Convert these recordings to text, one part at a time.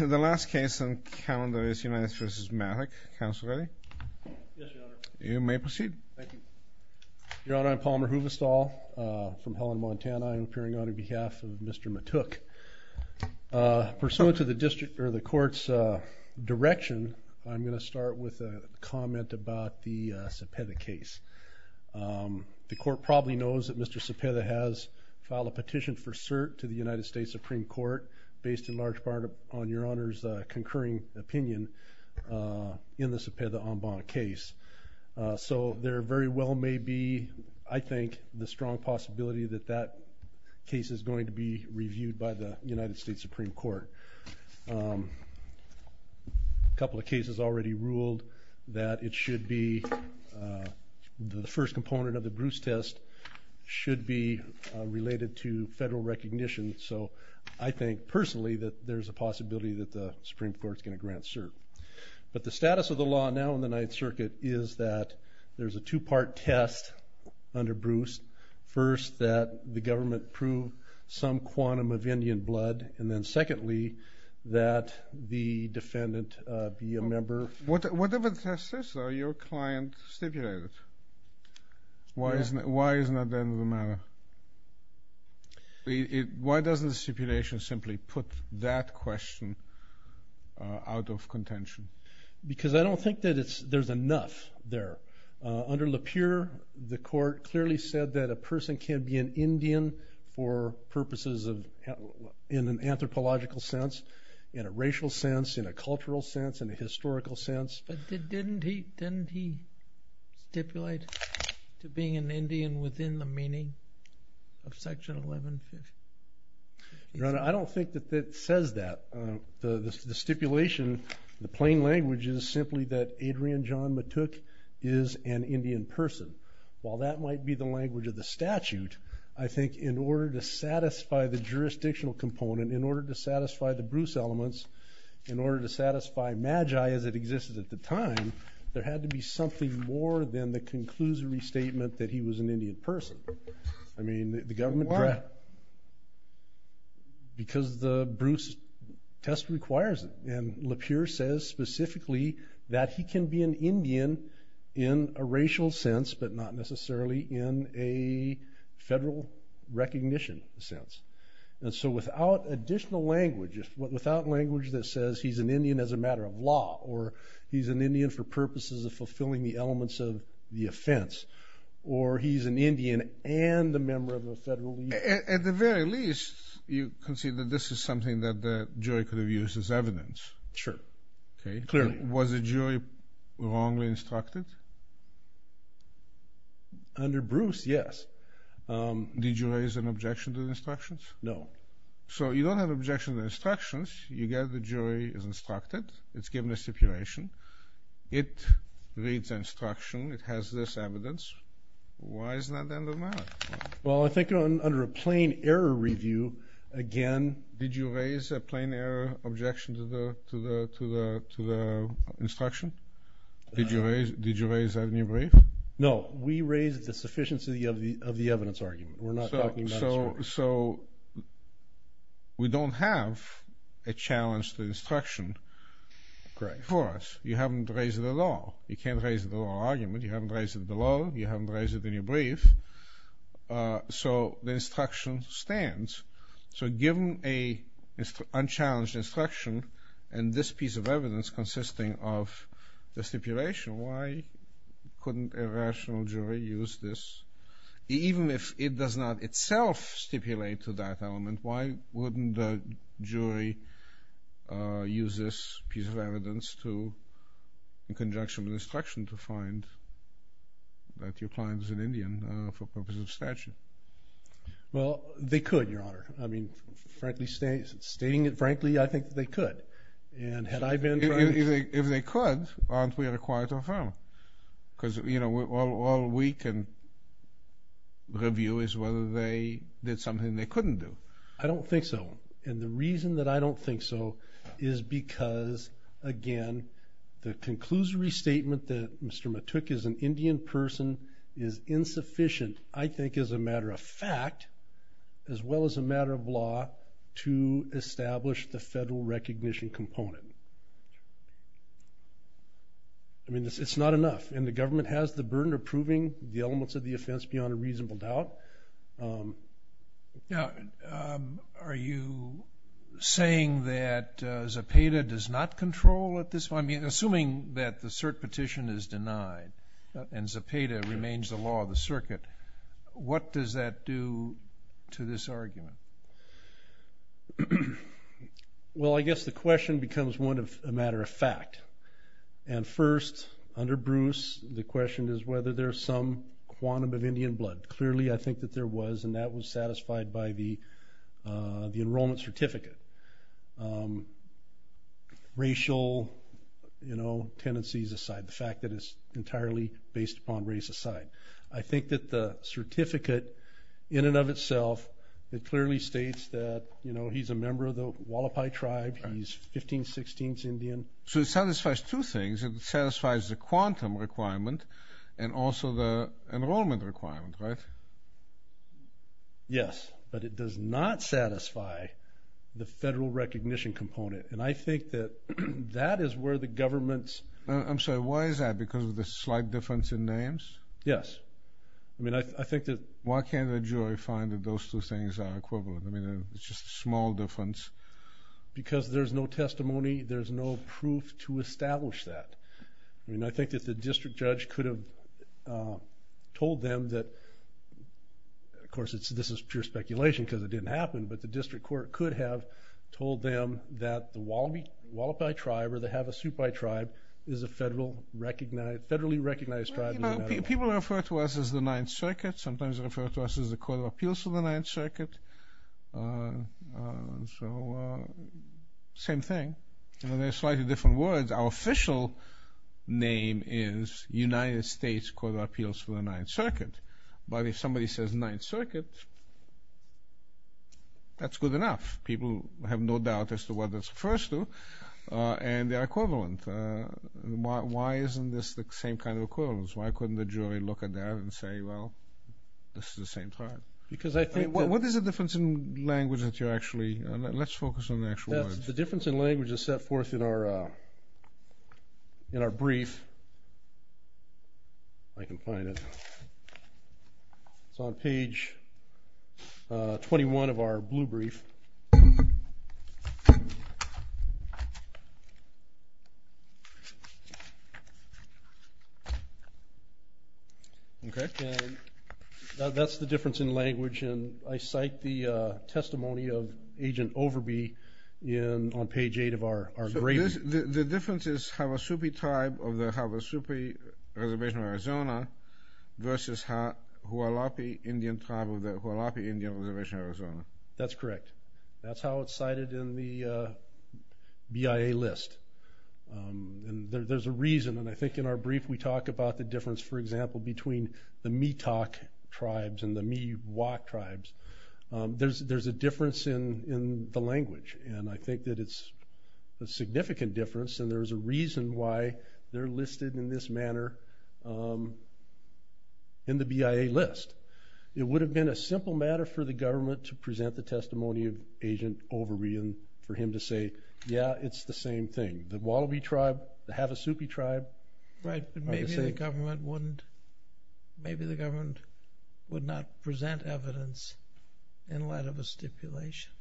The last case on the calendar is United States v. Maverick. Counsel ready? Yes, Your Honor. You may proceed. Thank you. Your Honor, I'm Palmer Huvestal from Helen, Montana. I'm appearing on behalf of Mr. Matuck. Pursuant to the court's direction, I'm going to start with a comment about the Cepeda case. The court probably knows that Mr. Cepeda has filed a petition for cert to the United States Supreme Court based in large part on Your Honor's concurring opinion in the Cepeda en banc case. So there very well may be, I think, the strong possibility that that case is going to be reviewed by the United States Supreme Court. A couple of cases already ruled that it should be the first component of the Bruce test should be related to federal recognition. So I think personally that there's a possibility that the Supreme Court's going to grant cert. But the status of the law now in the Ninth Circuit is that there's a two-part test under Bruce. First, that the government prove some quantum of Indian blood, and then secondly, that the defendant be a member. Whatever the test is, though, your client stipulated it. Why isn't that the end of the matter? Why doesn't the stipulation simply put that question out of contention? Because I don't think that there's enough there. Under LePure, the court clearly said that a person can be an Indian for purposes in an anthropological sense, in a racial sense, in a cultural sense, in a historical sense. But didn't he stipulate to being an Indian within the meaning of Section 1150? Your Honor, I don't think that it says that. The stipulation, the plain language is simply that Adrian John Mattook is an Indian person. While that might be the language of the statute, I think in order to satisfy the jurisdictional component, in order to satisfy the Bruce elements, in order to satisfy magi as it existed at the time, there had to be something more than the conclusory statement that he was an Indian person. I mean, the government- Why? Because the Bruce test requires it, and LePure says specifically that he can be an Indian in a racial sense, but not necessarily in a federal recognition sense. And so without additional language, without language that says he's an Indian as a matter of law, or he's an Indian for purposes of fulfilling the elements of the offense, or he's an Indian and a member of the federal- At the very least, you can see that this is something that the jury could have used as evidence. Sure. Clearly. Was the jury wrongly instructed? Under Bruce, yes. Did you raise an objection to the instructions? No. So you don't have an objection to the instructions. You get the jury is instructed. It's given a stipulation. It reads the instruction. It has this evidence. Why is that the end of the matter? Well, I think under a plain error review, again- Did you raise a plain error objection to the instruction? Did you raise that in your brief? No. We raised the sufficiency of the evidence argument. We're not talking about- So we don't have a challenge to the instruction for us. You haven't raised it at all. You can't raise the law argument. You haven't raised it below. You haven't raised it in your brief. So the instruction stands. So given an unchallenged instruction and this piece of evidence consisting of the stipulation, why couldn't a rational jury use this? Even if it does not itself stipulate to that element, why wouldn't the jury use this piece of evidence in conjunction with the instruction to find that your client is an Indian for purposes of statute? Well, they could, Your Honor. I mean, frankly, stating it frankly, I think they could. If they could, aren't we required to affirm? Because all we can review is whether they did something they couldn't do. I don't think so. And the reason that I don't think so is because, again, the conclusory statement that Mr. Matuk is an Indian person is insufficient, I think as a matter of fact, as well as a matter of law to establish the federal recognition component. I mean, it's not enough, and the government has the burden of proving the elements of the offense beyond a reasonable doubt. Now, are you saying that Zepeda does not control at this point? I mean, assuming that the cert petition is denied and Zepeda remains the law of the circuit, what does that do to this argument? Well, I guess the question becomes one of a matter of fact. And first, under Bruce, the question is whether there's some quantum of Indian blood. Clearly, I think that there was, and that was satisfied by the enrollment certificate. Racial, you know, tendencies aside, the fact that it's entirely based upon race aside. I think that the certificate in and of itself, it clearly states that, you know, he's a member of the Hualapai tribe. He's 1516th Indian. So it satisfies two things. It satisfies the quantum requirement and also the enrollment requirement, right? Yes, but it does not satisfy the federal recognition component. And I think that that is where the government's. I'm sorry. Why is that? Because of the slight difference in names? Yes. I mean, I think that. Why can't the jury find that those two things are equivalent? I mean, it's just a small difference. Because there's no testimony. There's no proof to establish that. I mean, I think that the district judge could have told them that, of course, this is pure speculation because it didn't happen, but the district court could have told them that the Hualapai tribe or the Havasupai tribe is a federally recognized tribe. People refer to us as the Ninth Circuit. Sometimes they refer to us as the Court of Appeals for the Ninth Circuit. So same thing. They're slightly different words. Our official name is United States Court of Appeals for the Ninth Circuit. But if somebody says Ninth Circuit, that's good enough. People have no doubt as to what that refers to, and they are equivalent. Why isn't this the same kind of equivalence? Why couldn't the jury look at that and say, well, this is the same tribe? Because I think that. What is the difference in language that you actually. Let's focus on the actual words. The difference in language is set forth in our brief. If I can find it. It's on page 21 of our blue brief. Okay. That's the difference in language, and I cite the testimony of Agent Overby on page 8 of our gray brief. The difference is Havasupi tribe of the Havasupi Reservation of Arizona versus Hualapai Indian tribe of the Hualapai Indian Reservation of Arizona. That's correct. That's how it's cited in the BIA list. There's a reason, and I think in our brief we talk about the difference, for example, between the Metoc tribes and the Miwok tribes. There's a difference in the language, and I think that it's a significant difference, and there's a reason why they're listed in this manner in the BIA list. It would have been a simple matter for the government to present the testimony of Agent Overby and for him to say, yeah, it's the same thing. The Hualapai tribe, the Havasupi tribe. Right, but maybe the government wouldn't. Maybe the government would not present evidence in light of a stipulation.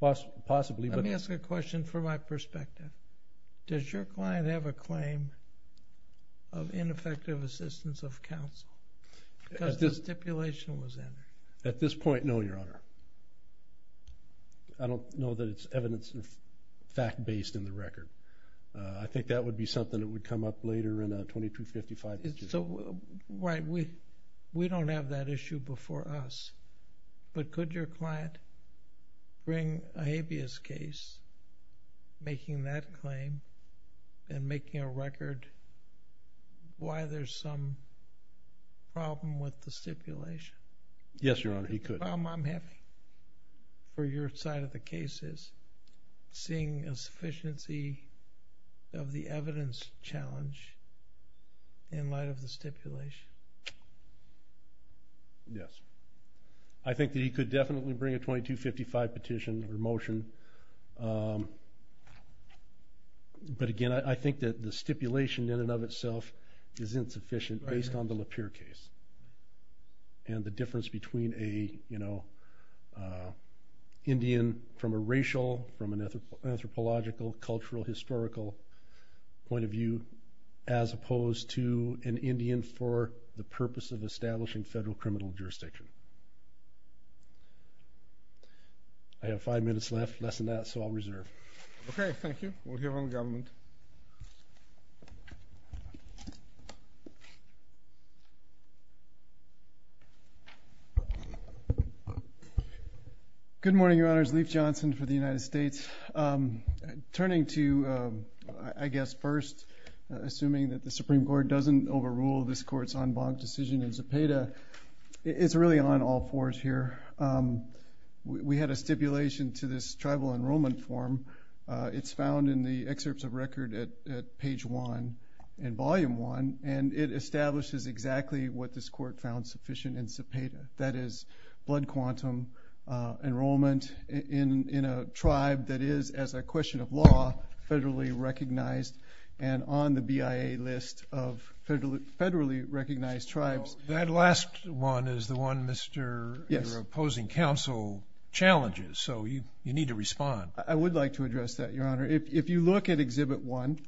Possibly. Let me ask a question from my perspective. Does your client have a claim of ineffective assistance of counsel because the stipulation was entered? At this point, no, Your Honor. I don't know that it's evidence fact-based in the record. I think that would be something that would come up later in a 2255. Right. We don't have that issue before us, but could your client bring a habeas case making that claim and making a record why there's some problem with the stipulation? Yes, Your Honor, he could. The problem I'm having for your side of the case is seeing a sufficiency of the evidence challenge in light of the stipulation. Yes. I think that he could definitely bring a 2255 petition or motion, but, again, I think that the stipulation in and of itself is insufficient based on the Lapeer case and the difference between an Indian from a racial, from an anthropological, cultural, historical point of view as opposed to an Indian for the purpose of establishing federal criminal jurisdiction. I have five minutes left, less than that, so I'll reserve. Okay, thank you. We'll hear from the government. Good morning, Your Honors. Leif Johnson for the United States. Turning to, I guess, first, assuming that the Supreme Court doesn't overrule this Court's en banc decision in Zepeda, it's really on all fours here. We had a stipulation to this tribal enrollment form. It's found in the excerpts of record at page one and volume one, and it establishes exactly what this Court found sufficient in Zepeda, that is blood quantum enrollment in a tribe that is, as a question of law, federally recognized and on the BIA list of federally recognized tribes. That last one is the one Mr. opposing counsel challenges, so you need to respond. Thank you, Your Honor. If you look at exhibit one,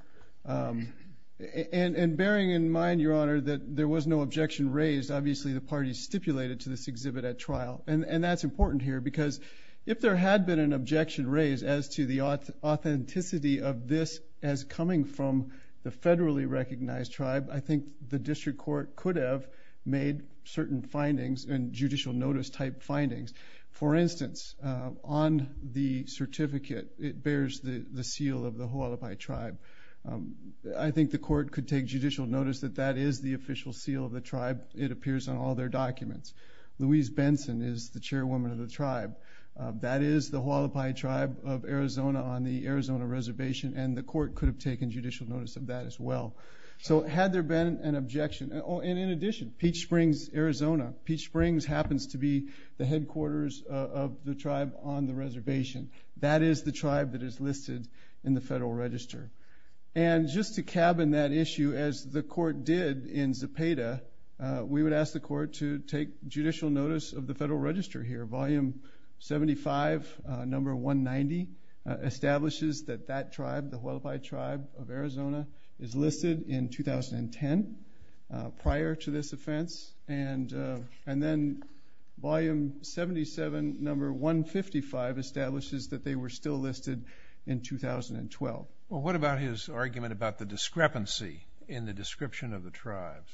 and bearing in mind, Your Honor, that there was no objection raised, obviously the parties stipulated to this exhibit at trial, and that's important here because if there had been an objection raised as to the authenticity of this as coming from the federally recognized tribe, I think the district court could have made certain findings and judicial notice type findings. For instance, on the certificate, it bears the seal of the Hualapai tribe. I think the court could take judicial notice that that is the official seal of the tribe. It appears on all their documents. Louise Benson is the chairwoman of the tribe. That is the Hualapai tribe of Arizona on the Arizona reservation, and the court could have taken judicial notice of that as well. So had there been an objection, and in addition, Peach Springs, Arizona. Peach Springs happens to be the headquarters of the tribe on the reservation. That is the tribe that is listed in the Federal Register. And just to cabin that issue, as the court did in Zapata, we would ask the court to take judicial notice of the Federal Register here. Volume 75, number 190, establishes that that tribe, the Hualapai tribe of Arizona, is listed in 2010 prior to this offense, and then volume 77, number 155, establishes that they were still listed in 2012. Well, what about his argument about the discrepancy in the description of the tribes?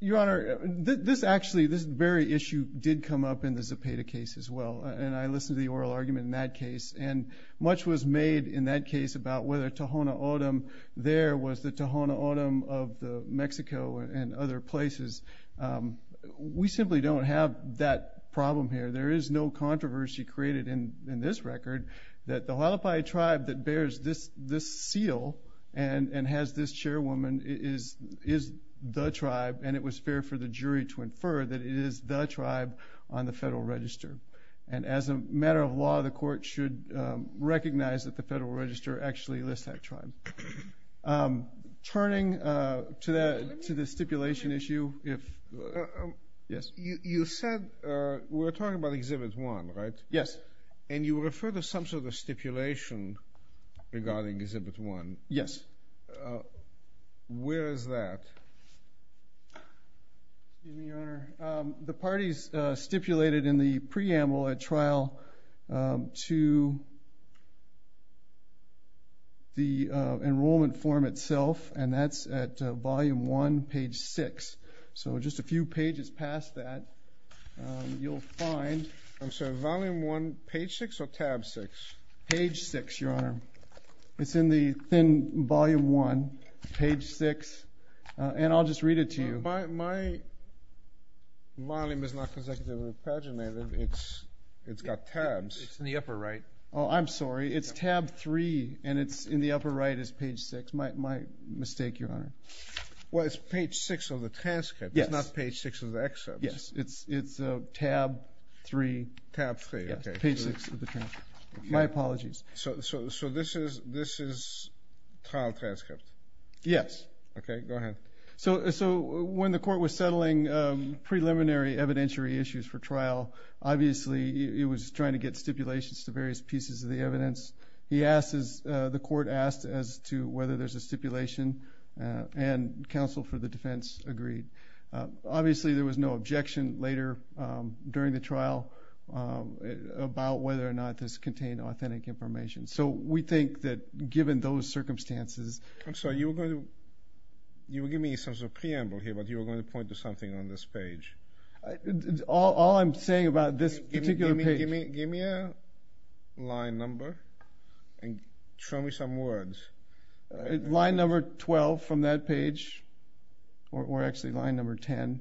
Your Honor, this actually, this very issue did come up in the Zapata case as well, and I listened to the oral argument in that case, and much was made in that case about whether Tohono O'odham there was the Tohono O'odham of Mexico and other places. We simply don't have that problem here. There is no controversy created in this record that the Hualapai tribe that bears this seal and has this chairwoman is the tribe, and it was fair for the jury to infer that it is the tribe on the Federal Register. And as a matter of law, the court should recognize that the Federal Register actually lists that tribe. Turning to the stipulation issue. You said we're talking about Exhibit 1, right? Yes. And you referred to some sort of stipulation regarding Exhibit 1. Yes. Where is that? Excuse me, Your Honor. The parties stipulated in the preamble at trial to the enrollment form itself, and that's at Volume 1, Page 6. So just a few pages past that, you'll find. I'm sorry, Volume 1, Page 6 or Tab 6? Page 6, Your Honor. It's in the thin Volume 1, Page 6. And I'll just read it to you. My volume is not consecutively paginated. It's got tabs. It's in the upper right. Oh, I'm sorry. It's Tab 3, and it's in the upper right is Page 6. My mistake, Your Honor. Well, it's Page 6 of the transcript. Yes. It's not Page 6 of the excerpt. Yes. It's Tab 3. Tab 3, okay. Page 6 of the transcript. My apologies. So this is trial transcript? Yes. Okay, go ahead. So when the court was settling preliminary evidentiary issues for trial, obviously it was trying to get stipulations to various pieces of the evidence. The court asked as to whether there's a stipulation, and counsel for the defense agreed. Obviously there was no objection later during the trial about whether or not this contained authentic information. So we think that given those circumstances. I'm sorry, you were going to give me some sort of preamble here, but you were going to point to something on this page. All I'm saying about this particular page. Give me a line number and show me some words. Line number 12 from that page, or actually line number 10.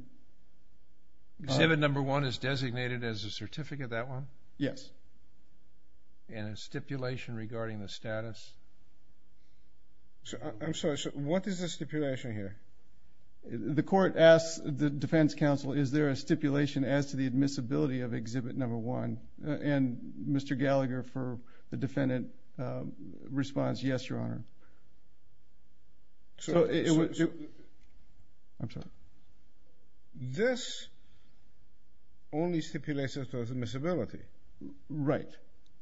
Exhibit number 1 is designated as a certificate, that one? Yes. And a stipulation regarding the status. I'm sorry, so what is the stipulation here? The court asked the defense counsel, is there a stipulation as to the admissibility of exhibit number 1? And Mr. Gallagher, for the defendant, responds, yes, Your Honor. I'm sorry. This only stipulates as to admissibility. Right.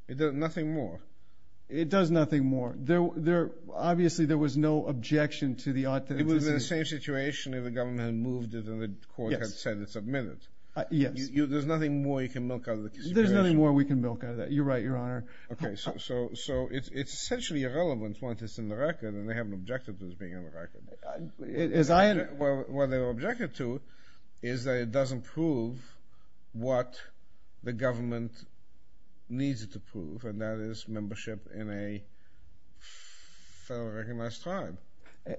It does nothing more. It does nothing more. Obviously there was no objection to the authenticity. It was the same situation if the government had moved it and the court had said it's admitted. Yes. There's nothing more you can milk out of the stipulation. There's nothing more we can milk out of that. You're right, Your Honor. Okay, so it's essentially irrelevant once it's in the record, and they haven't objected to it being in the record. What they objected to is that it doesn't prove what the government needs it to prove, and that is membership in a federally recognized tribe.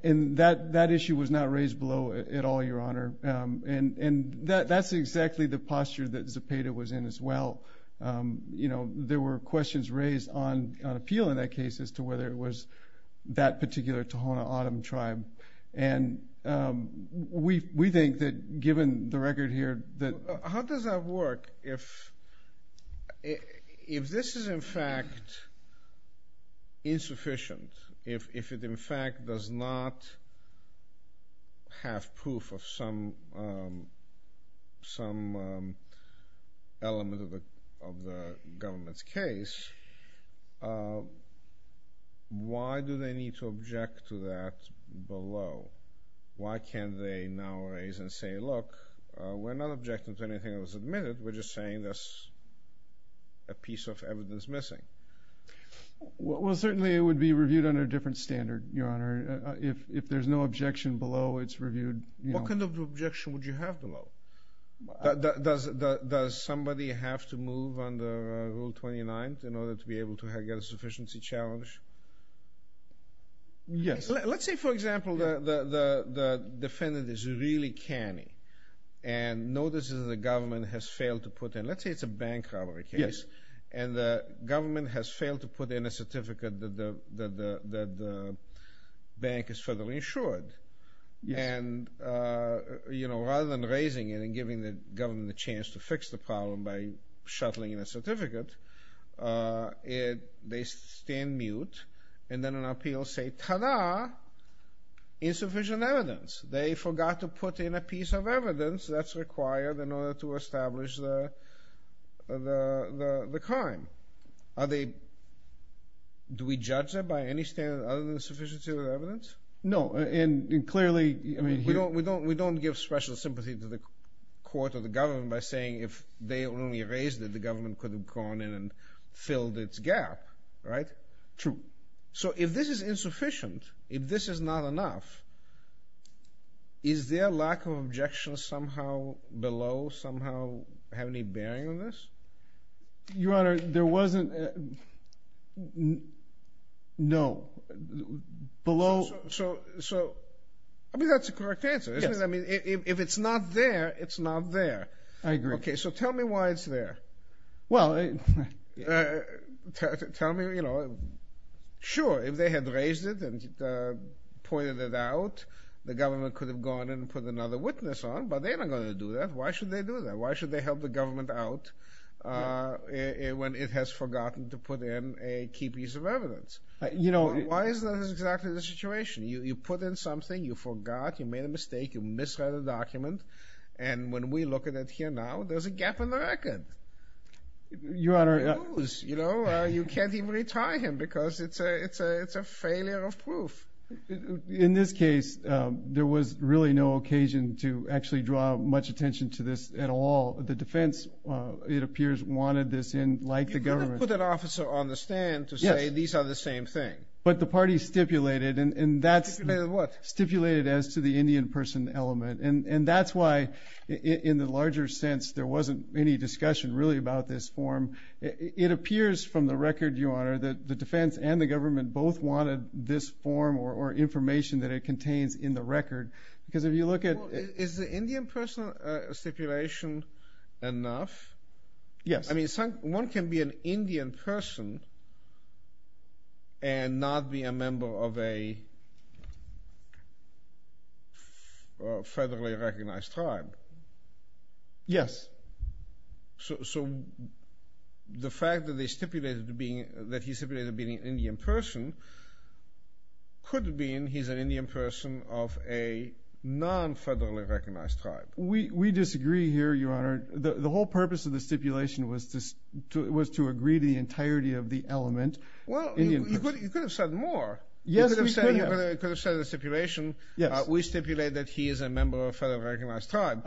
And that issue was not raised below at all, Your Honor. And that's exactly the posture that Zepeda was in as well. There were questions raised on appeal in that case as to whether it was that particular Tohono O'odham tribe. And we think that given the record here that... How does that work if this is in fact insufficient, if it in fact does not have proof of some element of the government's case, why do they need to object to that below? Why can't they now raise and say, look, we're not objecting to anything that was admitted. We're just saying there's a piece of evidence missing. Well, certainly it would be reviewed under a different standard, Your Honor. If there's no objection below, it's reviewed. What kind of objection would you have below? Does somebody have to move under Rule 29 in order to be able to get a sufficiency challenge? Yes. Let's say, for example, the defendant is really canny and notices the government has failed to put in, let's say it's a bank robbery case, and the government has failed to put in a certificate that the bank is federally insured. And rather than raising it and giving the government the chance to fix the problem by shuttling in a certificate, they stand mute and then on appeal say, ta-da, insufficient evidence. They forgot to put in a piece of evidence that's required in order to establish the crime. Do we judge that by any standard other than the sufficiency of the evidence? No, and clearly... We don't give special sympathy to the court or the government by saying if they only raised it, the government could have gone in and filled its gap, right? True. So if this is insufficient, if this is not enough, is their lack of objection somehow below somehow have any bearing on this? Your Honor, there wasn't... No. Below... So, I mean, that's the correct answer, isn't it? Yes. I mean, if it's not there, it's not there. I agree. Okay, so tell me why it's there. Well... Tell me, you know... Sure, if they had raised it and pointed it out, the government could have gone in and put another witness on, but they're not going to do that. Why should they do that? Why should they help the government out when it has forgotten to put in a key piece of evidence? You know... Why is that exactly the situation? You put in something, you forgot, you made a mistake, you misread a document, and when we look at it here now, there's a gap in the record. Your Honor... You can't even retry him because it's a failure of proof. In this case, there was really no occasion to actually draw much attention to this at all. The defense, it appears, wanted this in, like the government. You couldn't put an officer on the stand to say, these are the same thing. But the party stipulated, and that's... Stipulated what? Stipulated as to the Indian person element, and that's why, in the larger sense, there wasn't any discussion really about this form. It appears from the record, Your Honor, that the defense and the government both wanted this form or information that it contains in the record, because if you look at... Is the Indian person stipulation enough? Yes. I mean, one can be an Indian person and not be a member of a federally recognized tribe. Yes. So the fact that he stipulated being an Indian person could mean he's an Indian person of a non-federally recognized tribe. We disagree here, Your Honor. The whole purpose of the stipulation was to agree to the entirety of the element. Well, you could have said more. Yes, we could have. You could have said in the stipulation, we stipulate that he is a member of a federally recognized tribe,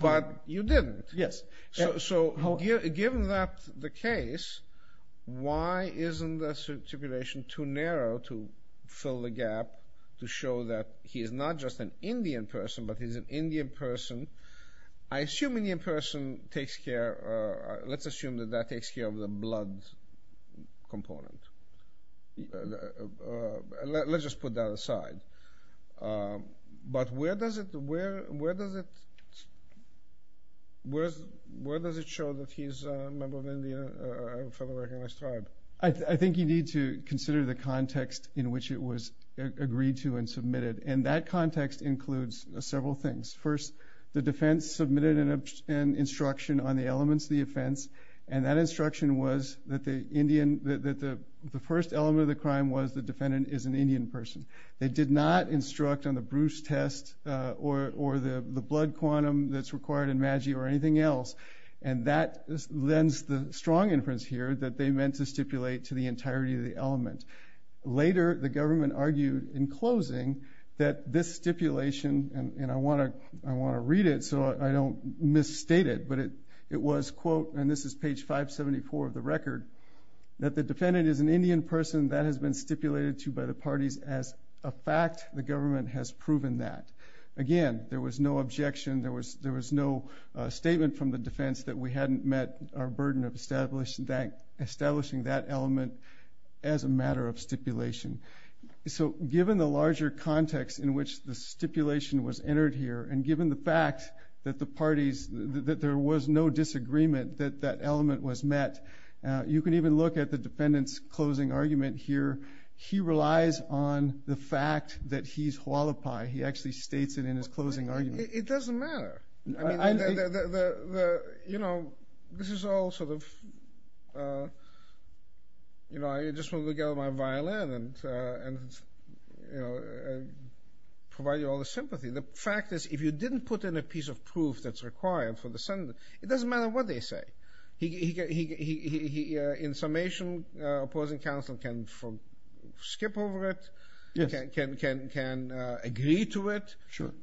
but you didn't. Yes. So given that the case, why isn't the stipulation too narrow to fill the gap to show that he is not just an Indian person, but he's an Indian person? I assume Indian person takes care, let's assume that that takes care of the blood component. Let's just put that aside. But where does it show that he's a member of a federally recognized tribe? I think you need to consider the context in which it was agreed to and submitted, and that context includes several things. First, the defense submitted an instruction on the elements of the offense, and that instruction was that the first element of the crime was the defendant is an Indian person. They did not instruct on the Bruce test or the blood quantum that's required in MAGI or anything else, and that lends the strong inference here that they meant to stipulate to the entirety of the element. Later, the government argued in closing that this stipulation, and I want to read it so I don't misstate it, but it was, quote, and this is page 574 of the record, that the defendant is an Indian person that has been stipulated to by the parties as a fact. The government has proven that. Again, there was no objection. There was no statement from the defense that we hadn't met our burden of establishing that element as a matter of stipulation. So given the larger context in which the stipulation was entered here and given the fact that the parties, that there was no disagreement that that element was met, you can even look at the defendant's closing argument here. He relies on the fact that he's Hualapai. He actually states it in his closing argument. It doesn't matter. You know, this is all sort of, you know, I just want to look at my violin and provide you all the sympathy. The fact is if you didn't put in a piece of proof that's required for the sentence, it doesn't matter what they say. In summation, opposing counsel can skip over it, can agree to it.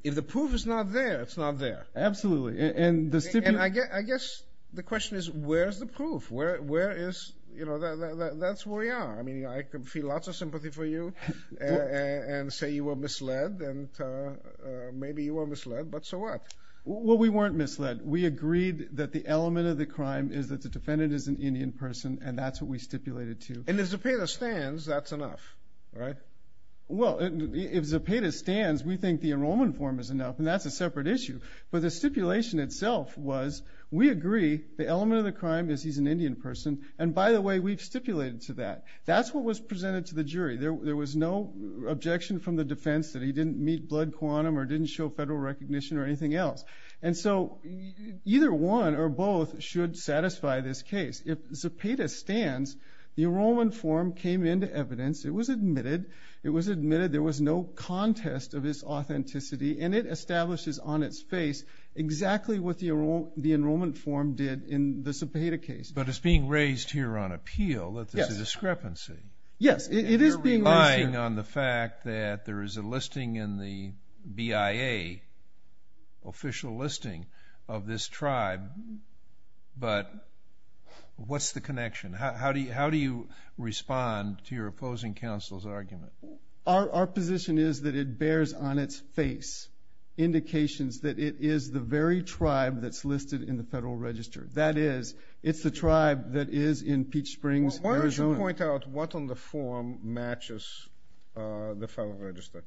If the proof is not there, it's not there. Absolutely. And I guess the question is where is the proof? Where is, you know, that's where we are. I mean, I can feel lots of sympathy for you and say you were misled and maybe you were misled, but so what? Well, we weren't misled. We agreed that the element of the crime is that the defendant is an Indian person and that's what we stipulated to. And if Zepeda stands, that's enough, right? Well, if Zepeda stands, we think the enrollment form is enough, and that's a separate issue. But the stipulation itself was we agree the element of the crime is he's an Indian person, and by the way, we've stipulated to that. That's what was presented to the jury. There was no objection from the defense that he didn't meet blood quantum or didn't show federal recognition or anything else. And so either one or both should satisfy this case. If Zepeda stands, the enrollment form came into evidence. It was admitted. It was admitted. There was no contest of his authenticity, and it establishes on its face exactly what the enrollment form did in the Zepeda case. But it's being raised here on appeal that there's a discrepancy. Yes, it is being raised here. I agree on the fact that there is a listing in the BIA, official listing of this tribe, but what's the connection? How do you respond to your opposing counsel's argument? Our position is that it bears on its face indications that it is the very tribe that's listed in the Federal Register. That is, it's the tribe that is in Peach Springs, Arizona. Why don't you point out what on the form matches the Federal Register?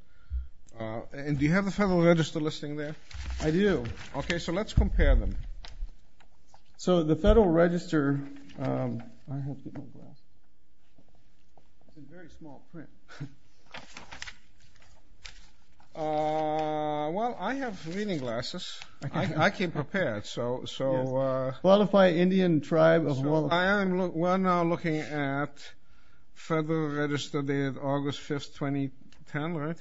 And do you have the Federal Register listing there? I do. Okay, so let's compare them. So the Federal Register, I have reading glasses. It's in very small print. Well, I have reading glasses. I came prepared. Qualify Indian tribe of Hualapai. I am now looking at Federal Register dated August 5, 2010, right?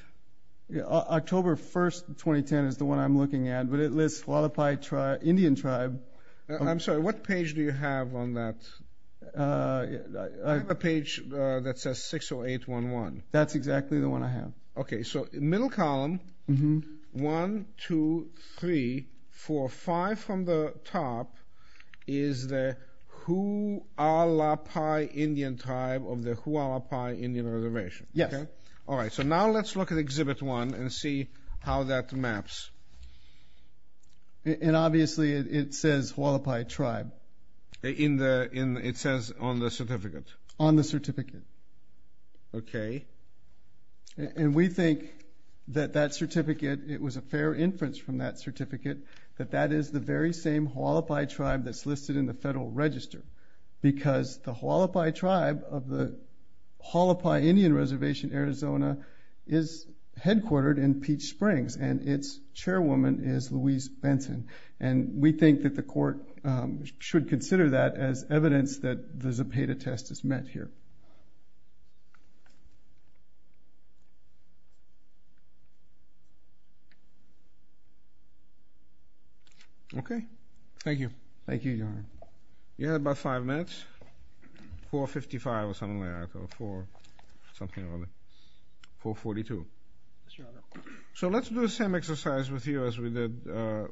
October 1, 2010 is the one I'm looking at, but it lists Hualapai Indian tribe. I'm sorry, what page do you have on that? I have a page that says 60811. That's exactly the one I have. Okay, so middle column, one, two, three, four, five from the top is the Hualapai Indian tribe of the Hualapai Indian Reservation. Yes. All right, so now let's look at Exhibit 1 and see how that maps. And obviously it says Hualapai tribe. It says on the certificate. On the certificate. Okay. And we think that that certificate, it was a fair inference from that certificate, that that is the very same Hualapai tribe that's listed in the Federal Register because the Hualapai tribe of the Hualapai Indian Reservation, Arizona, is headquartered in Peach Springs, and its chairwoman is Louise Benson. And we think that the court should consider that as evidence that the Zepeda test is met here. Okay. Thank you. Thank you, Your Honor. You had about five minutes. 4.55 or something like that, or 4.00, something like that. 4.42. Yes, Your Honor. So let's do the same exercise with you as we did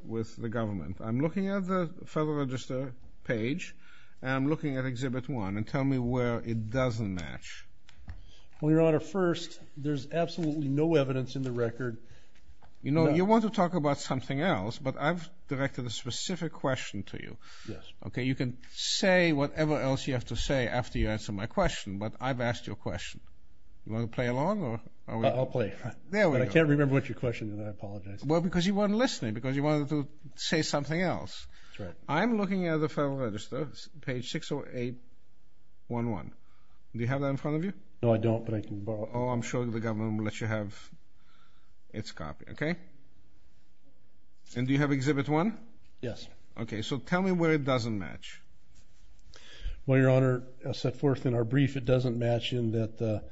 with the government. I'm looking at the Federal Register page, and I'm looking at Exhibit 1, and tell me where it doesn't match. Well, Your Honor, first, there's absolutely no evidence in the record. You know, you want to talk about something else, but I've directed a specific question to you. Yes. Okay, you can say whatever else you have to say after you answer my question, but I've asked you a question. You want to play along? I'll play. There we go. I can't remember what your question is. I apologize. Well, because you weren't listening, because you wanted to say something else. That's right. I'm looking at the Federal Register, page 60811. Do you have that in front of you? No, I don't, but I can borrow it. Oh, I'm sure the government will let you have its copy, okay? And do you have Exhibit 1? Yes. Okay, so tell me where it doesn't match. Well, Your Honor, set forth in our brief, it doesn't match in that the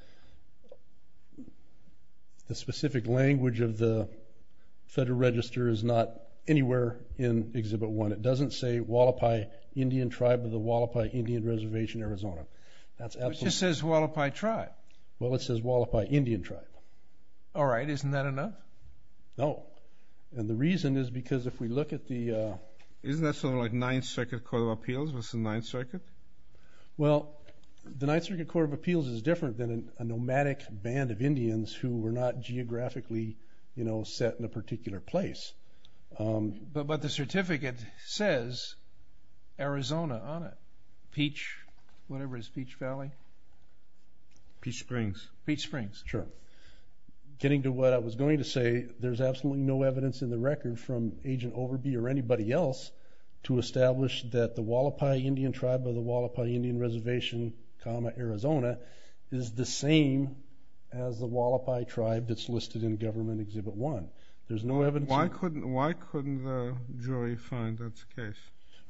specific language of the Federal Register is not anywhere in Exhibit 1. It doesn't say Hualapai Indian Tribe of the Hualapai Indian Reservation, Arizona. It just says Hualapai Tribe. Well, it says Hualapai Indian Tribe. All right, isn't that enough? No, and the reason is because if we look at the ---- What's the Ninth Circuit? Well, the Ninth Circuit Court of Appeals is different than a nomadic band of Indians who were not geographically set in a particular place. But the certificate says Arizona on it, whatever it is, Peach Valley? Peach Springs. Peach Springs, sure. Getting to what I was going to say, there's absolutely no evidence in the record from Agent Overby or anybody else to establish that the Hualapai Indian Tribe of the Hualapai Indian Reservation, Arizona, is the same as the Hualapai Tribe that's listed in Government Exhibit 1. There's no evidence. Why couldn't the jury find that's the case?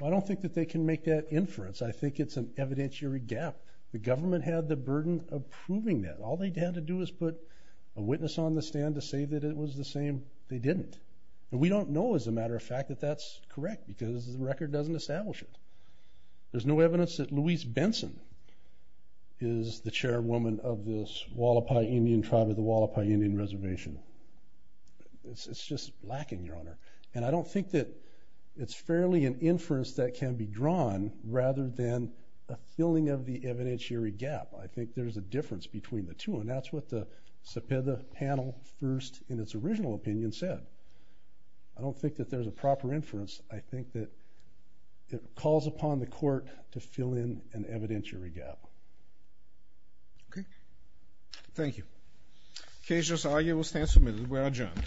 I don't think that they can make that inference. I think it's an evidentiary gap. The government had the burden of proving that. All they had to do was put a witness on the stand to say that it was the same. They didn't. And we don't know, as a matter of fact, that that's correct because the record doesn't establish it. There's no evidence that Louise Benson is the chairwoman of this Hualapai Indian Tribe of the Hualapai Indian Reservation. It's just lacking, Your Honor. And I don't think that it's fairly an inference that can be drawn rather than a filling of the evidentiary gap. I think there's a difference between the two, and that's what the CEPEDA panel first, in its original opinion, said. I don't think that there's a proper inference. I think that it calls upon the court to fill in an evidentiary gap. Okay. Thank you. The case just argued will stand submitted. We are adjourned.